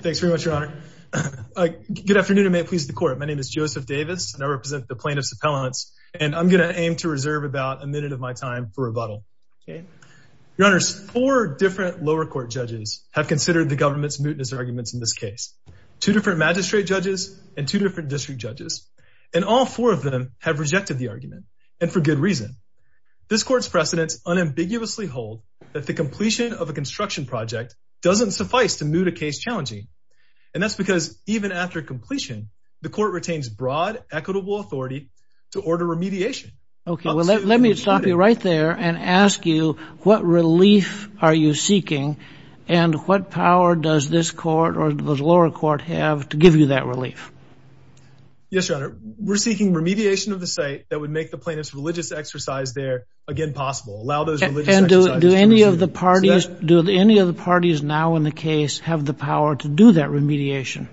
Thanks very much, Your Honor. Good afternoon, and may it please the court. My name is Joseph Davis, and I represent the plaintiffs' appellants, and I'm going to aim to reserve about a minute of my time for rebuttal. Your Honor, four different lower court judges have considered the government's mootness arguments in this case. Two different magistrate judges and two different district judges, and all four of them have rejected the argument, and for good reason. This court's precedents unambiguously hold that the completion of a construction project doesn't suffice to And that's because even after completion, the court retains broad equitable authority to order remediation. Okay, well let me stop you right there and ask you what relief are you seeking, and what power does this court or the lower court have to give you that relief? Yes, Your Honor, we're seeking remediation of the site that would make the plaintiff's religious exercise there again possible. Allow those religious exercises. And do any of the now in the case have the power to do that remediation?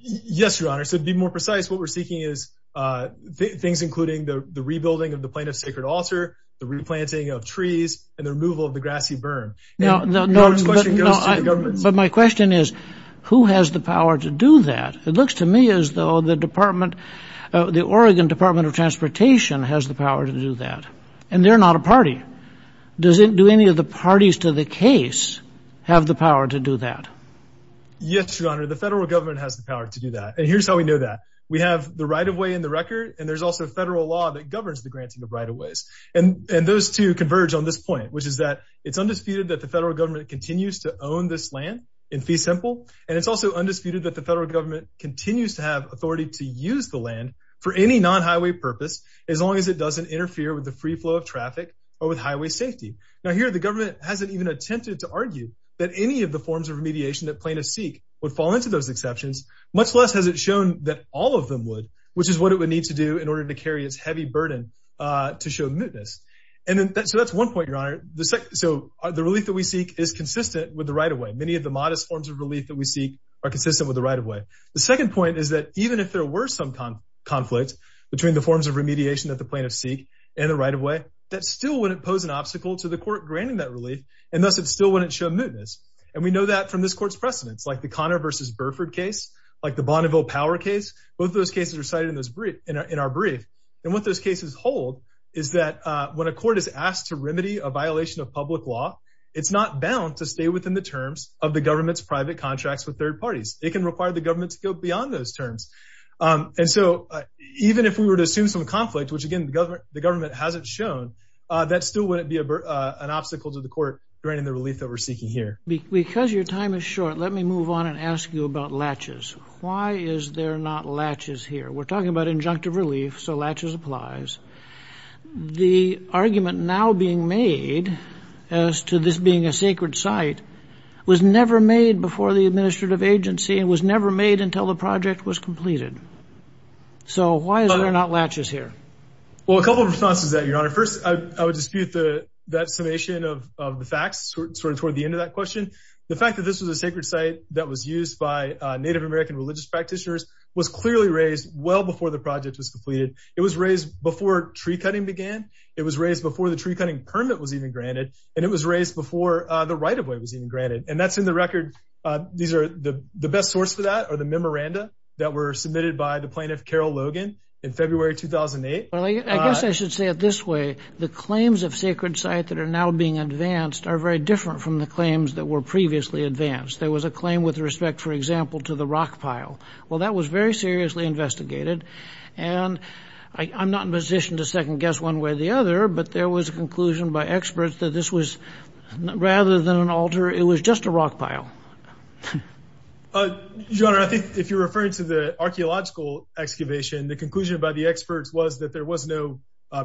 Yes, Your Honor, so to be more precise, what we're seeking is things including the rebuilding of the plaintiff's sacred altar, the replanting of trees, and the removal of the grassy burn. But my question is, who has the power to do that? It looks to me as though the department, the Oregon Department of Transportation has the power to do that, and they're not a party. Does it do any of the parties to the case have the power to do that? Yes, Your Honor, the federal government has the power to do that, and here's how we know that. We have the right-of-way in the record, and there's also federal law that governs the granting of right-of-ways. And those two converge on this point, which is that it's undisputed that the federal government continues to own this land in fee simple, and it's also undisputed that the federal government continues to have authority to use the land for any non-highway purpose, as long as it doesn't interfere with the free flow of traffic or with highway safety. Now here, the government hasn't even attempted to argue that any of the forms of remediation that plaintiffs seek would fall into those exceptions, much less has it shown that all of them would, which is what it would need to do in order to carry its heavy burden to show mootness. So that's one point, Your Honor. So the relief that we seek is consistent with the right-of-way. Many of the modest forms of relief that we seek are consistent with the right-of-way. The second point is that even if there were some conflict between the forms of remediation that the plaintiffs seek and the right-of-way, that still wouldn't pose an obstacle to the court granting that relief, and thus it still wouldn't show mootness. And we know that from this court's precedents, like the Connor v. Burford case, like the Bonneville Power case. Both of those cases are cited in our brief. And what those cases hold is that when a court is asked to remedy a violation of public law, it's not bound to stay within the terms of the government's private contracts with third parties. It can require the government to go beyond those terms. And so even if we were to assume some conflict, which, again, the government hasn't shown, that still wouldn't be an obstacle to the court granting the relief that we're seeking here. Because your time is short, let me move on and ask you about latches. Why is there not latches here? We're talking about injunctive relief, so latches applies. The argument now being made as to this being a sacred site was never made before the administrative agency and was never made until the project was completed. So why is there not latches here? Well, a couple of responses to that, Your Honor. First, I would dispute that summation of the facts sort of toward the end of that question. The fact that this was a sacred site that was used by Native American religious practitioners was clearly raised well before the project was completed. It was raised before tree-cutting began. It was raised before the tree-cutting permit was even granted. And it was raised before the right-of-way was even granted. And that's in the record. These are the best source for that are the memoranda that were submitted by the plaintiff, Carol Logan, in February 2008. Well, I guess I should say it this way. The claims of sacred sites that are now being advanced are very different from the claims that previously advanced. There was a claim with respect, for example, to the rock pile. Well, that was very seriously investigated. And I'm not in a position to second-guess one way or the other, but there was a conclusion by experts that this was, rather than an altar, it was just a rock pile. Your Honor, I think if you're referring to the archaeological excavation, the conclusion by the experts was that there was no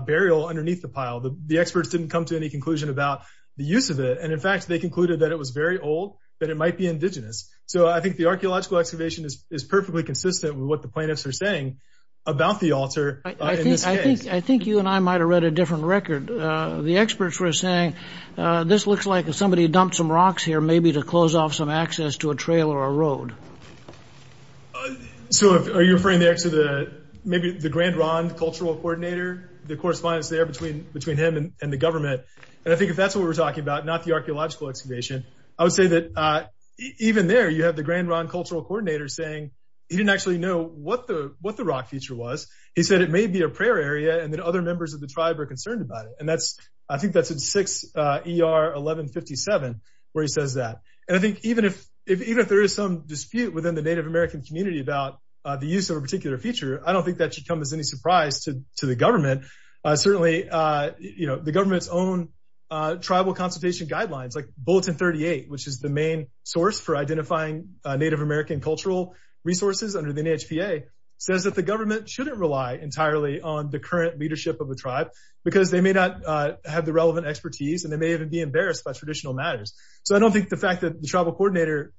burial underneath the pile. The experts didn't come to any conclusion about the use of it. And in fact, they concluded that it was very old, that it might be indigenous. So I think the archaeological excavation is perfectly consistent with what the plaintiffs are saying about the altar in this case. I think you and I might have read a different record. The experts were saying, this looks like somebody dumped some rocks here, maybe to close off some access to a trail or a road. So are you referring there to maybe the Grand Ronde cultural coordinator, the correspondence there between him and the government? And I think if that's what we're talking about, not the archaeological excavation, I would say that even there, you have the Grand Ronde cultural coordinator saying he didn't actually know what the rock feature was. He said it may be a prayer area and that other members of the tribe are concerned about it. And I think that's in 6 ER 1157, where he says that. And I think even if there is some dispute within the Native American community about the use of a particular feature, I don't think that should come as any surprise to the government. Certainly, the government's own tribal consultation guidelines, like Bulletin 38, which is the main source for identifying Native American cultural resources under the NHPA, says that the government shouldn't rely entirely on the current leadership of the tribe because they may not have the relevant expertise and they may even be embarrassed by traditional matters. So I don't think the fact that the tribal coordinator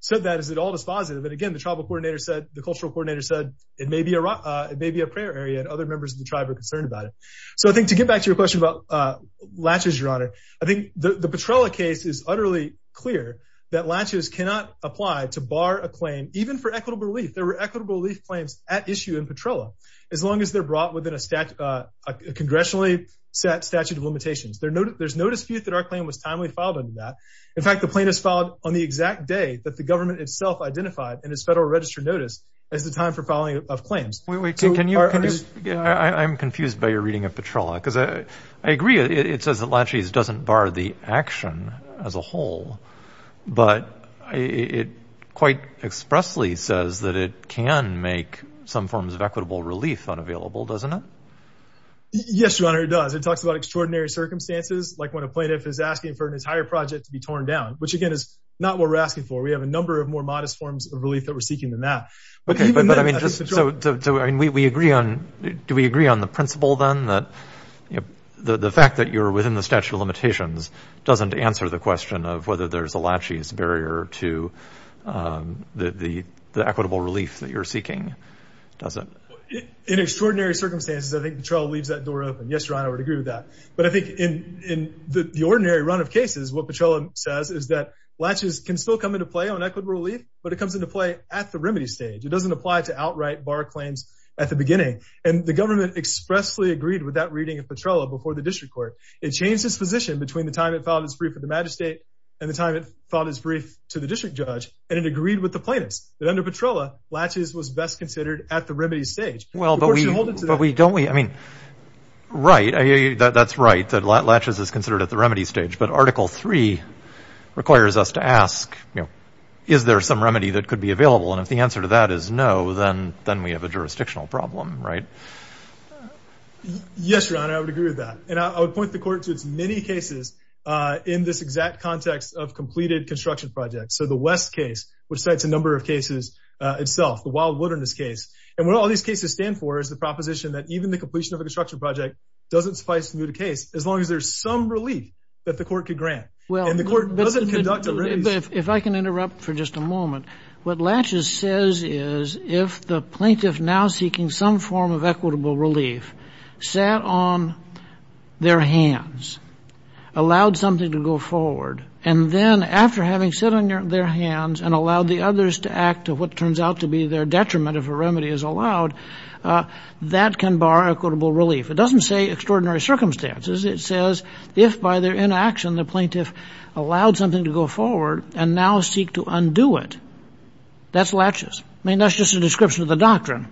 said that is at all positive. And again, the tribal coordinator said, the cultural coordinator said, it may be a rock, it may be a prayer area and other members of the tribe are concerned about it. So I think to get back to your question about latches, your honor, I think the Petrella case is utterly clear that latches cannot apply to bar a claim, even for equitable relief. There were equitable relief claims at issue in Petrella, as long as they're brought within a stat, a congressionally set statute of limitations. There's no dispute that our claim was timely filed under that. In fact, the plaintiffs filed on the exact day that the government itself identified in its federal registered notice as the time for filing of claims. I'm confused by your reading of Petrella because I agree it says that latches doesn't bar the action as a whole, but it quite expressly says that it can make some forms of equitable relief unavailable, doesn't it? Yes, your honor, it does. It talks about extraordinary circumstances, like when a plaintiff is asking for an entire project to be torn down, which again is not what we're asking for. We have a number of more modest forms of relief that we're seeking than that. Okay, but I mean, just so we agree on, do we agree on the principle then that the fact that you're within the statute of limitations doesn't answer the question of whether there's a latches barrier to the equitable relief that you're seeking, does it? In extraordinary circumstances, I think Petrella leaves that door open. Yes, what Petrella says is that latches can still come into play on equitable relief, but it comes into play at the remedy stage. It doesn't apply to outright bar claims at the beginning, and the government expressly agreed with that reading of Petrella before the district court. It changed its position between the time it filed its brief for the magistrate and the time it filed its brief to the district judge, and it agreed with the plaintiffs that under Petrella, latches was best considered at the remedy stage. Well, but we don't, we, I mean. Right, that's right, that latches is considered at the remedy stage, but article three requires us to ask, you know, is there some remedy that could be available, and if the answer to that is no, then we have a jurisdictional problem, right? Yes, your honor, I would agree with that, and I would point the court to its many cases in this exact context of completed construction projects. So the West case, which cites a number of cases itself, the wild wilderness case, and what all these cases stand for is the proposition that even the completion of a construction project doesn't suffice to move the case as long as there's some relief that the court could grant. Well, and the court doesn't conduct a remedy. If I can interrupt for just a moment, what latches says is if the plaintiff now seeking some form of equitable relief sat on their hands, allowed something to go forward, and then after having sat on their hands and allowed the others to act to what turns out to be their detriment if a remedy is allowed, that can bar equitable relief. It doesn't say extraordinary circumstances. It says if by their inaction the plaintiff allowed something to go forward and now seek to undo it, that's latches. I mean, that's just a description of the doctrine.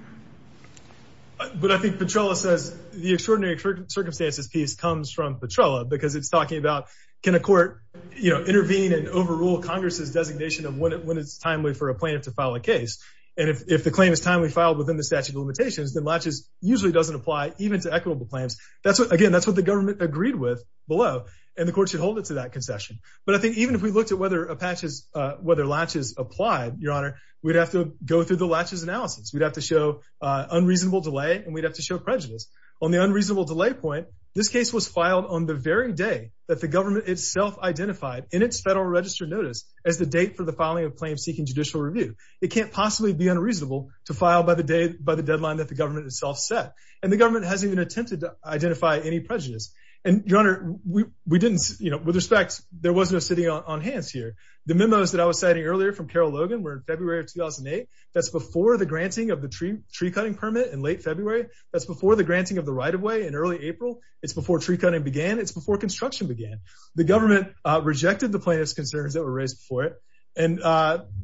But I think Petrella says the extraordinary circumstances piece comes from Petrella because it's talking about can a court, you know, intervene and overrule Congress's designation of when it's timely for a plaintiff to file a case, and if the claim is timely filed within the statute of limitations, then latches usually doesn't apply even to equitable claims. That's what, again, that's what the government agreed with below, and the court should hold it to that concession. But I think even if we looked at whether latches applied, your honor, we'd have to go through the latches analysis. We'd have to show unreasonable delay, and we'd have to show prejudice. On the unreasonable delay point, this case was filed on the very day that the government itself identified in its federal registered notice as the date for the filing of claims seeking judicial review. It can't possibly be unreasonable to file by the deadline that the government itself set, and the government hasn't even attempted to identify any prejudice. And your honor, we didn't, you know, with respect, there was no sitting on hands here. The memos that I was citing earlier from Carol Logan were in February of 2008. That's before the granting of the tree cutting permit in late February. That's before the granting of the right-of-way in early April. It's before tree cutting began. It's before construction began. The government rejected the plaintiff's concerns that were raised before it, and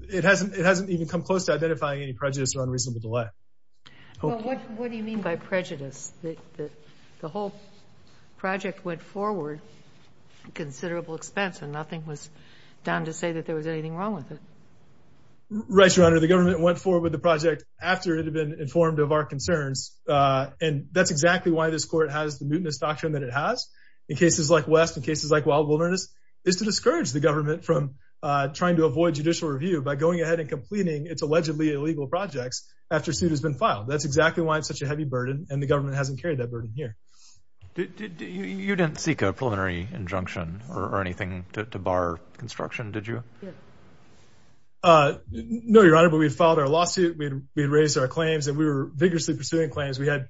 it hasn't even come close to identifying any prejudice or unreasonable delay. Well, what do you mean by prejudice? The whole project went forward at a considerable expense, and nothing was done to say that there was anything wrong with it. Right, your honor. The government went forward with the project after it had been informed of our concerns, and that's exactly why this court has the mutinous doctrine that it has. In cases like West, in cases like wild wilderness, is to discourage the government from trying to avoid judicial review by going ahead and completing its allegedly illegal projects after suit has been filed. That's exactly why it's such a heavy burden, and the government hasn't carried that burden here. You didn't seek a preliminary injunction or anything to bar construction, did you? No, your honor, but we had filed our lawsuit. We had raised our claims, and we were vigorously pursuing claims. We had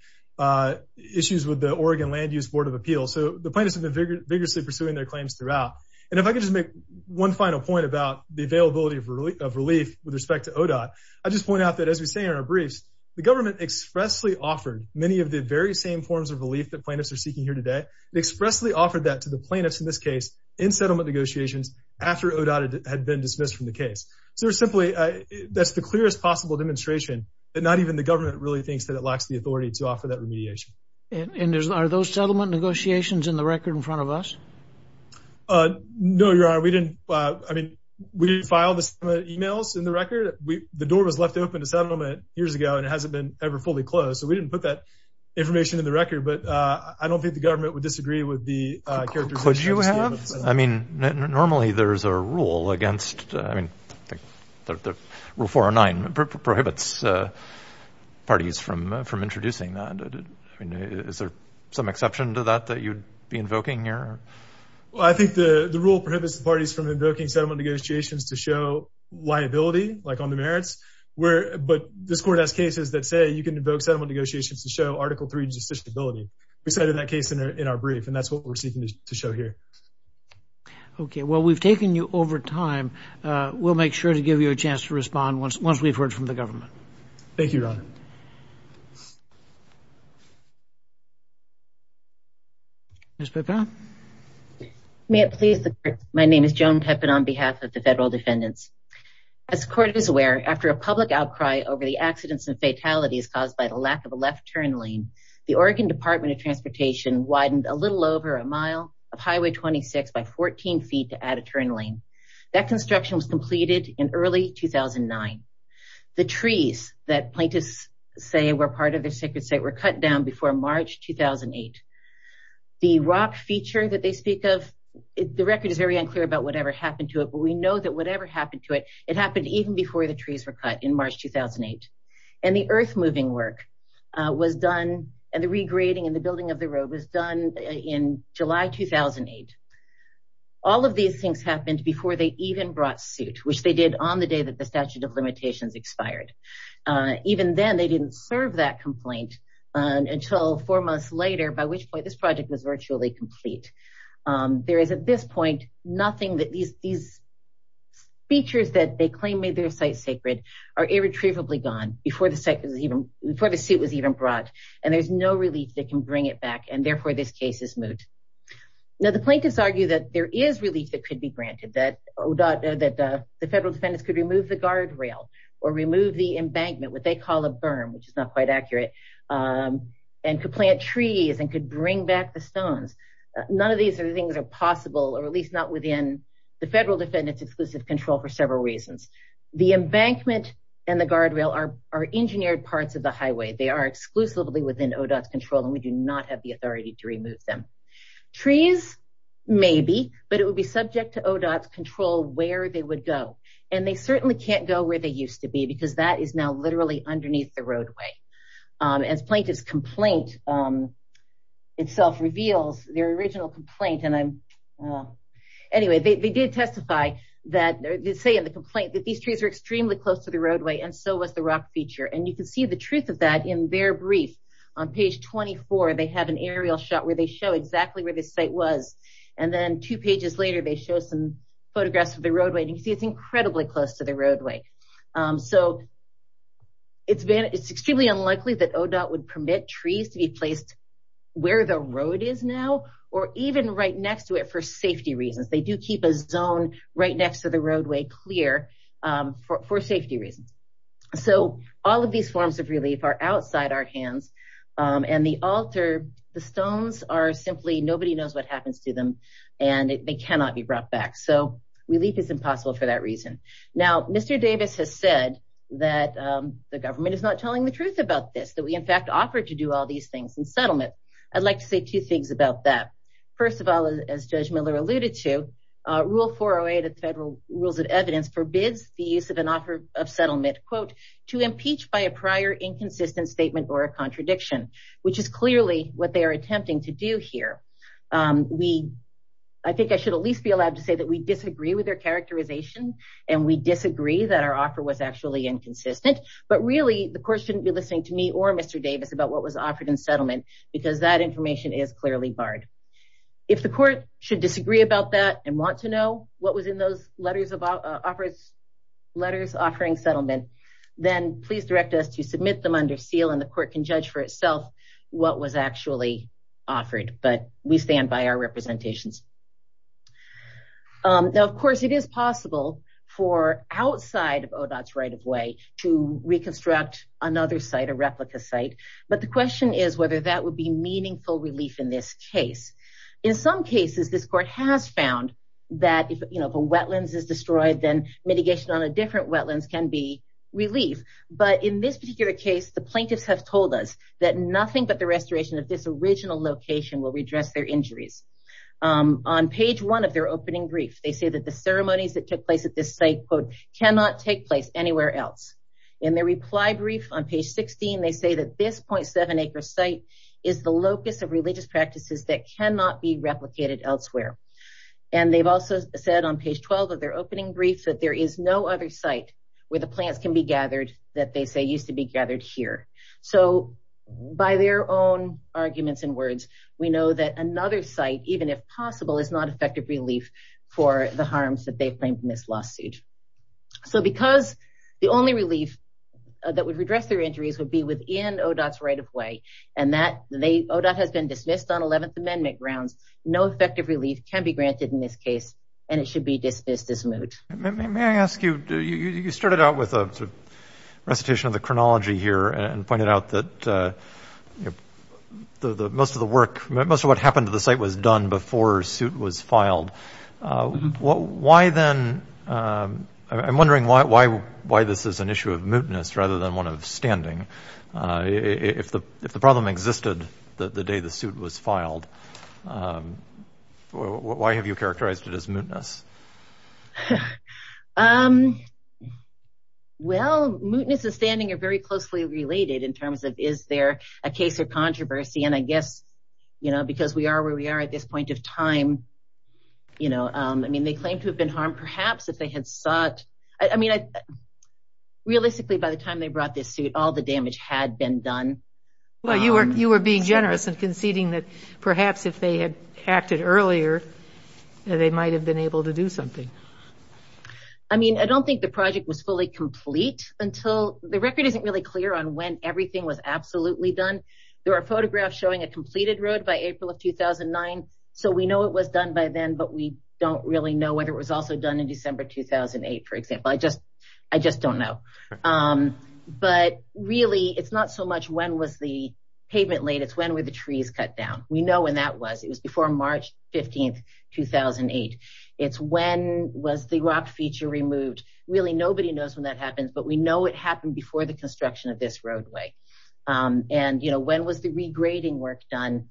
issues with the Oregon Land Use Board of Appeals. The plaintiffs have been vigorously pursuing their claims throughout. If I could just make one final point about the availability of relief with respect to ODOT, I'd just point out that, as we say in our briefs, the government expressly offered many of the very same forms of relief that plaintiffs are seeking here today. It expressly offered that to the plaintiffs, in this case, in settlement negotiations after ODOT had been dismissed from the case. That's the clearest possible demonstration that not even the government really thinks that it lacks the in front of us. No, your honor, we didn't. I mean, we didn't file the emails in the record. The door was left open to settlement years ago, and it hasn't been ever fully closed, so we didn't put that information in the record, but I don't think the government would disagree with the characterization. Could you have? I mean, normally, there's a rule against, I mean, Rule 409 prohibits parties from introducing that. Is there some exception to that that you'd be invoking here? Well, I think the rule prohibits the parties from invoking settlement negotiations to show liability, like on the merits, where, but this court has cases that say you can invoke settlement negotiations to show Article III justiciability. We cited that case in our brief, and that's what we're seeking to show here. Okay, well, we've taken you over time. We'll make sure to give you a chance to Ms. Pepin. May it please the court, my name is Joan Pepin on behalf of the federal defendants. As the court is aware, after a public outcry over the accidents and fatalities caused by the lack of a left turn lane, the Oregon Department of Transportation widened a little over a mile of Highway 26 by 14 feet to add a turn lane. That construction was completed in early 2009. The trees that plaintiffs say were part of the sacred site were cut down before March 2008, the rock feature that they speak of, the record is very unclear about whatever happened to it, but we know that whatever happened to it, it happened even before the trees were cut in March 2008. And the earth moving work was done, and the regrading and the building of the road was done in July 2008. All of these things happened before they even brought suit, which they did on the day that the statute of limitations expired. Even then, they didn't serve that complaint until four years later, when this project was virtually complete. There is at this point, nothing that these features that they claim made their site sacred are irretrievably gone before the site was even, before the suit was even brought. And there's no relief that can bring it back, and therefore this case is moot. Now, the plaintiffs argue that there is relief that could be granted, that the federal defendants could remove the guardrail or remove the embankment, what they call a berm, which is not quite accurate, and could plant trees and could bring back the stones. None of these things are possible, or at least not within the federal defendants' exclusive control for several reasons. The embankment and the guardrail are engineered parts of the highway. They are exclusively within ODOT's control, and we do not have the authority to remove them. Trees, maybe, but it would be subject to ODOT's control where they would go. And they certainly can't go where they used to be, because that is now literally underneath the roadway. As plaintiff's complaint itself reveals, their original complaint, and I'm, anyway, they did testify that, they say in the complaint that these trees are extremely close to the roadway, and so was the rock feature. And you can see the truth of that in their brief. On page 24, they have an aerial shot where they show exactly where this site was, and then two pages later, they show some photographs of the roadway, and you can see it's incredibly close to the roadway. So, it's extremely unlikely that ODOT would permit trees to be placed where the road is now, or even right next to it for safety reasons. They do keep a zone right next to the roadway clear for safety reasons. So, all of these forms of relief are outside our and they cannot be brought back. So, relief is impossible for that reason. Now, Mr. Davis has said that the government is not telling the truth about this, that we, in fact, offer to do all these things in settlement. I'd like to say two things about that. First of all, as Judge Miller alluded to, Rule 408 of Federal Rules of Evidence forbids the use of an offer of settlement, quote, to impeach by a prior inconsistent statement or a contradiction, which is clearly what they are I think I should at least be allowed to say that we disagree with their characterization, and we disagree that our offer was actually inconsistent, but really, the court shouldn't be listening to me or Mr. Davis about what was offered in settlement, because that information is clearly barred. If the court should disagree about that and want to know what was in those letters offering settlement, then please direct us to submit them under seal, and the court can Now, of course, it is possible for outside of ODOT's right-of-way to reconstruct another site, a replica site, but the question is whether that would be meaningful relief in this case. In some cases, this court has found that if a wetlands is destroyed, then mitigation on a different wetlands can be relief, but in this particular case, the plaintiffs have told us that nothing but the restoration of this original location will redress their injuries. On page one of their opening brief, they say that the ceremonies that took place at this site cannot take place anywhere else. In their reply brief on page 16, they say that this 0.7 acre site is the locus of religious practices that cannot be replicated elsewhere, and they've also said on page 12 of their opening brief that there is no other site where the plants can be gathered that they say used to be gathered here. So, by their own is not effective relief for the harms that they've claimed in this lawsuit. So, because the only relief that would redress their injuries would be within ODOT's right-of-way, and that ODOT has been dismissed on 11th Amendment grounds, no effective relief can be granted in this case, and it should be dismissed as moot. May I ask you, you started out with a recitation of the chronology here and pointed out that the most of the work, most of what happened to the site was done before suit was filed. Why then, I'm wondering why this is an issue of mootness rather than one of standing. If the problem existed the day the suit was filed, why have you characterized it as mootness? Well, mootness and standing are very closely related in terms of is there a case of controversy, and I guess, you know, because we are where we are at this point of time, you know, I mean, they claim to have been harmed perhaps if they had sought, I mean, realistically by the time they brought this suit, all the damage had been done. Well, you were being generous and conceding that perhaps if they had acted earlier, they might have been able to do something. I mean, I don't think the project was fully complete until, the record isn't really clear on when everything was absolutely done. There are photographs showing a completed road by April of 2009, so we know it was done by then, but we don't really know whether it was also done in December 2008, for example. I just, I just don't know. But really, it's not so much when was the pavement laid, it's when were the trees cut down. We know when that was, it was before March 15, 2008. It's when was the rock feature removed. Really, nobody knows when that happens, but we know it happened before the construction of this roadway. And, you know, when was the regrading work done?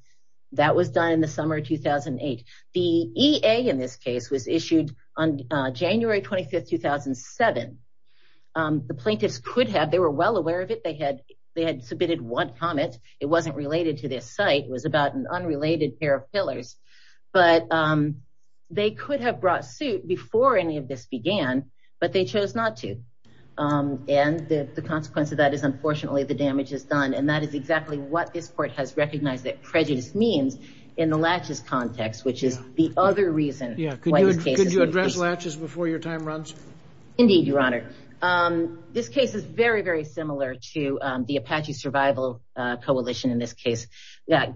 That was done in the summer of 2008. The EA in this case was issued on January 25, 2007. The plaintiffs could have, they were well it wasn't related to this site, it was about an unrelated pair of pillars, but they could have brought suit before any of this began, but they chose not to. And the consequence of that is, unfortunately, the damage is done. And that is exactly what this court has recognized that prejudice means in the latches context, which is the other reason. Yeah, could you address latches before your time runs? Indeed, your honor. This case is very, very similar to the Apache Survival Coalition in this case. Yeah,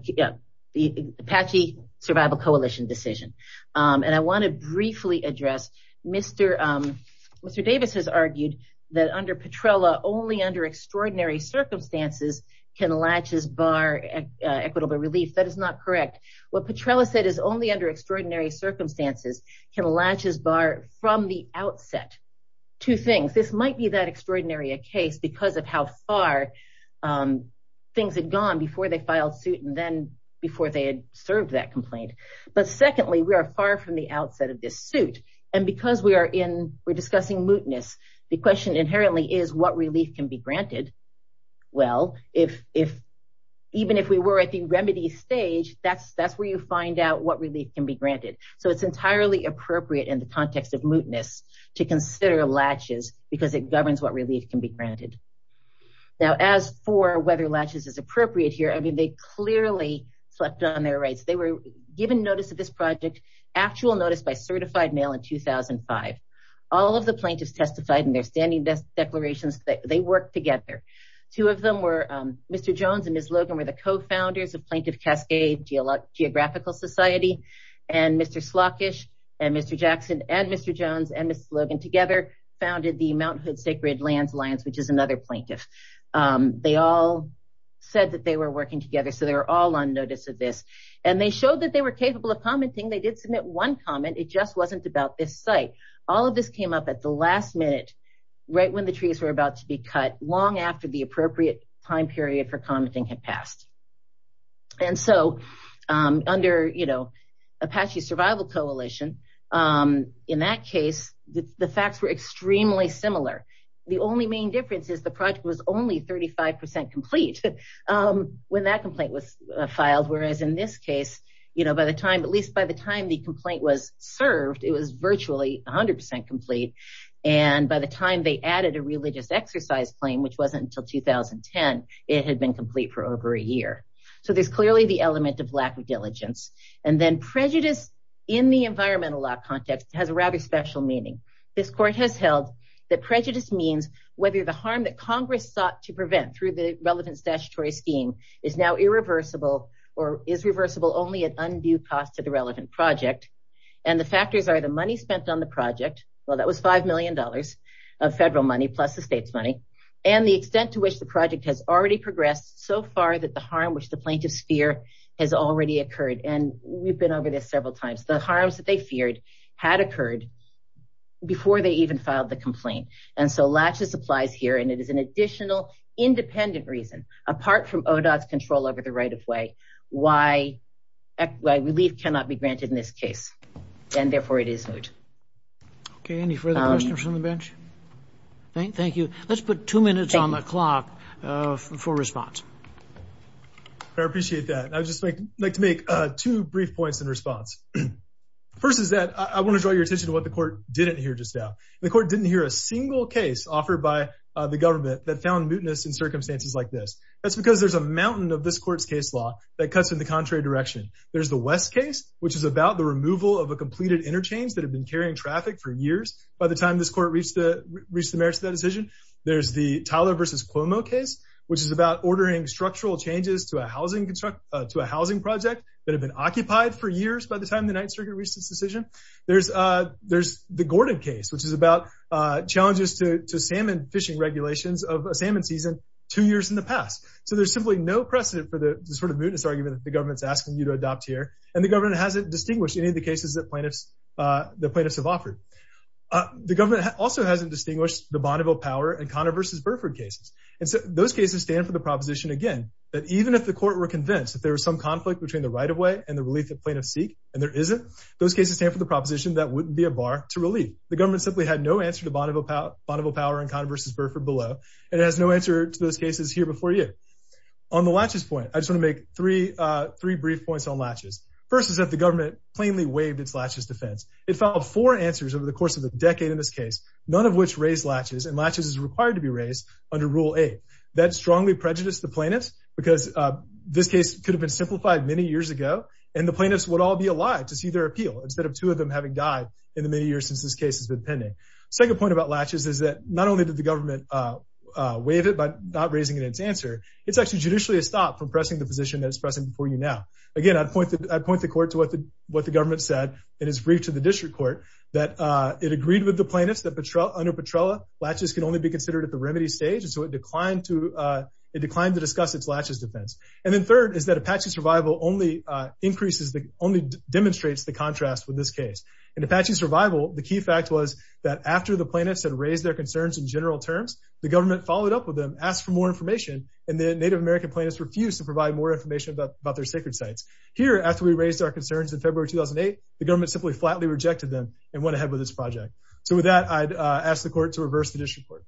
the Apache Survival Coalition decision. And I want to briefly address Mr. Davis has argued that under Petrella only under extraordinary circumstances can latches bar equitable relief. That is not correct. What Petrella said is only under extraordinary circumstances can latches bar from the outset. Two things, this might be that um, things had gone before they filed suit and then before they had served that complaint. But secondly, we are far from the outset of this suit. And because we are in, we're discussing mootness, the question inherently is what relief can be granted? Well, if, if even if we were at the remedy stage, that's, that's where you find out what relief can be granted. So it's entirely appropriate in the context of mootness to consider latches because it governs what relief can be granted. As for whether latches is appropriate here. I mean, they clearly slept on their rights. They were given notice of this project, actual notice by certified mail in 2005. All of the plaintiffs testified in their standing best declarations that they work together. Two of them were, um, Mr. Jones and Ms. Logan were the co-founders of Plaintiff Cascade Geographical Society. And Mr. Slockish and Mr. Jackson and Mr. Jones and Ms. Logan together founded the Mount they all said that they were working together. So they were all on notice of this and they showed that they were capable of commenting. They did submit one comment. It just wasn't about this site. All of this came up at the last minute, right when the trees were about to be cut long after the appropriate time period for commenting had passed. And so, um, under, you know, Apache Survival Coalition, um, in that case, the facts were extremely similar. The only main difference is the project was only 35% complete, um, when that complaint was filed. Whereas in this case, you know, by the time, at least by the time the complaint was served, it was virtually 100% complete. And by the time they added a religious exercise claim, which wasn't until 2010, it had been complete for over a year. So there's clearly the element of lack of diligence and then prejudice in the environmental law context has a rather special meaning. This court has held that harm that Congress sought to prevent through the relevant statutory scheme is now irreversible or is reversible only at undue cost to the relevant project. And the factors are the money spent on the project. Well, that was $5 million of federal money plus the state's money and the extent to which the project has already progressed so far that the harm, which the plaintiffs fear has already occurred. And we've been over this several times, the harms that they feared had occurred before they even filed the complaint. And so latches applies here, and it is an additional independent reason, apart from ODOT's control over the right of way, why relief cannot be granted in this case. And therefore it is moot. Okay. Any further questions from the bench? Thank you. Let's put two minutes on the clock for response. I appreciate that. I'd just like to make two brief points in response. First is that I want to draw your attention to what the court didn't hear just now. The court didn't hear a single case offered by the government that found mootness in circumstances like this. That's because there's a mountain of this court's case law that cuts in the contrary direction. There's the West case, which is about the removal of a completed interchange that had been carrying traffic for years. By the time this court reached the merits of that decision, there's the Tyler versus Cuomo case, which is about ordering structural changes to a housing project that reached its decision. There's the Gordon case, which is about challenges to salmon fishing regulations of a salmon season two years in the past. So there's simply no precedent for the sort of mootness argument that the government's asking you to adopt here. And the government hasn't distinguished any of the cases that plaintiffs have offered. The government also hasn't distinguished the Bonneville Power and Connor versus Burford cases. And so those cases stand for the proposition, again, that even if the court were convinced that there was some mootness, those cases stand for the proposition that wouldn't be a bar to relieve. The government simply had no answer to Bonneville Power and Connor versus Burford below, and it has no answer to those cases here before you. On the latches point, I just want to make three brief points on latches. First is that the government plainly waived its latches defense. It filed four answers over the course of a decade in this case, none of which raised latches, and latches is required to be raised under Rule 8. That strongly prejudiced the plaintiffs because this case could have been instead of two of them having died in the many years since this case has been pending. Second point about latches is that not only did the government waive it by not raising its answer, it's actually judicially a stop from pressing the position that it's pressing before you now. Again, I'd point the court to what the government said in its brief to the district court, that it agreed with the plaintiffs that under Petrella, latches can only be considered at the remedy stage, and so it declined to discuss its latches defense. And then third is that Apache survival only demonstrates the contrast with this case. In Apache survival, the key fact was that after the plaintiffs had raised their concerns in general terms, the government followed up with them, asked for more information, and the Native American plaintiffs refused to provide more information about their sacred sites. Here, after we raised our concerns in February 2008, the government simply flatly rejected them and went ahead with this project. So with that, I'd ask the court to reverse the district court,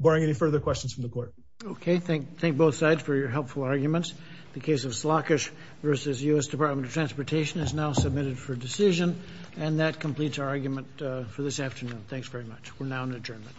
barring any further questions from the court. Okay, thank both sides for your helpful arguments. The case of Slakic versus U.S. Department of Transportation is now submitted for decision, and that completes our argument for this afternoon. Thanks very much. We're now in adjournment.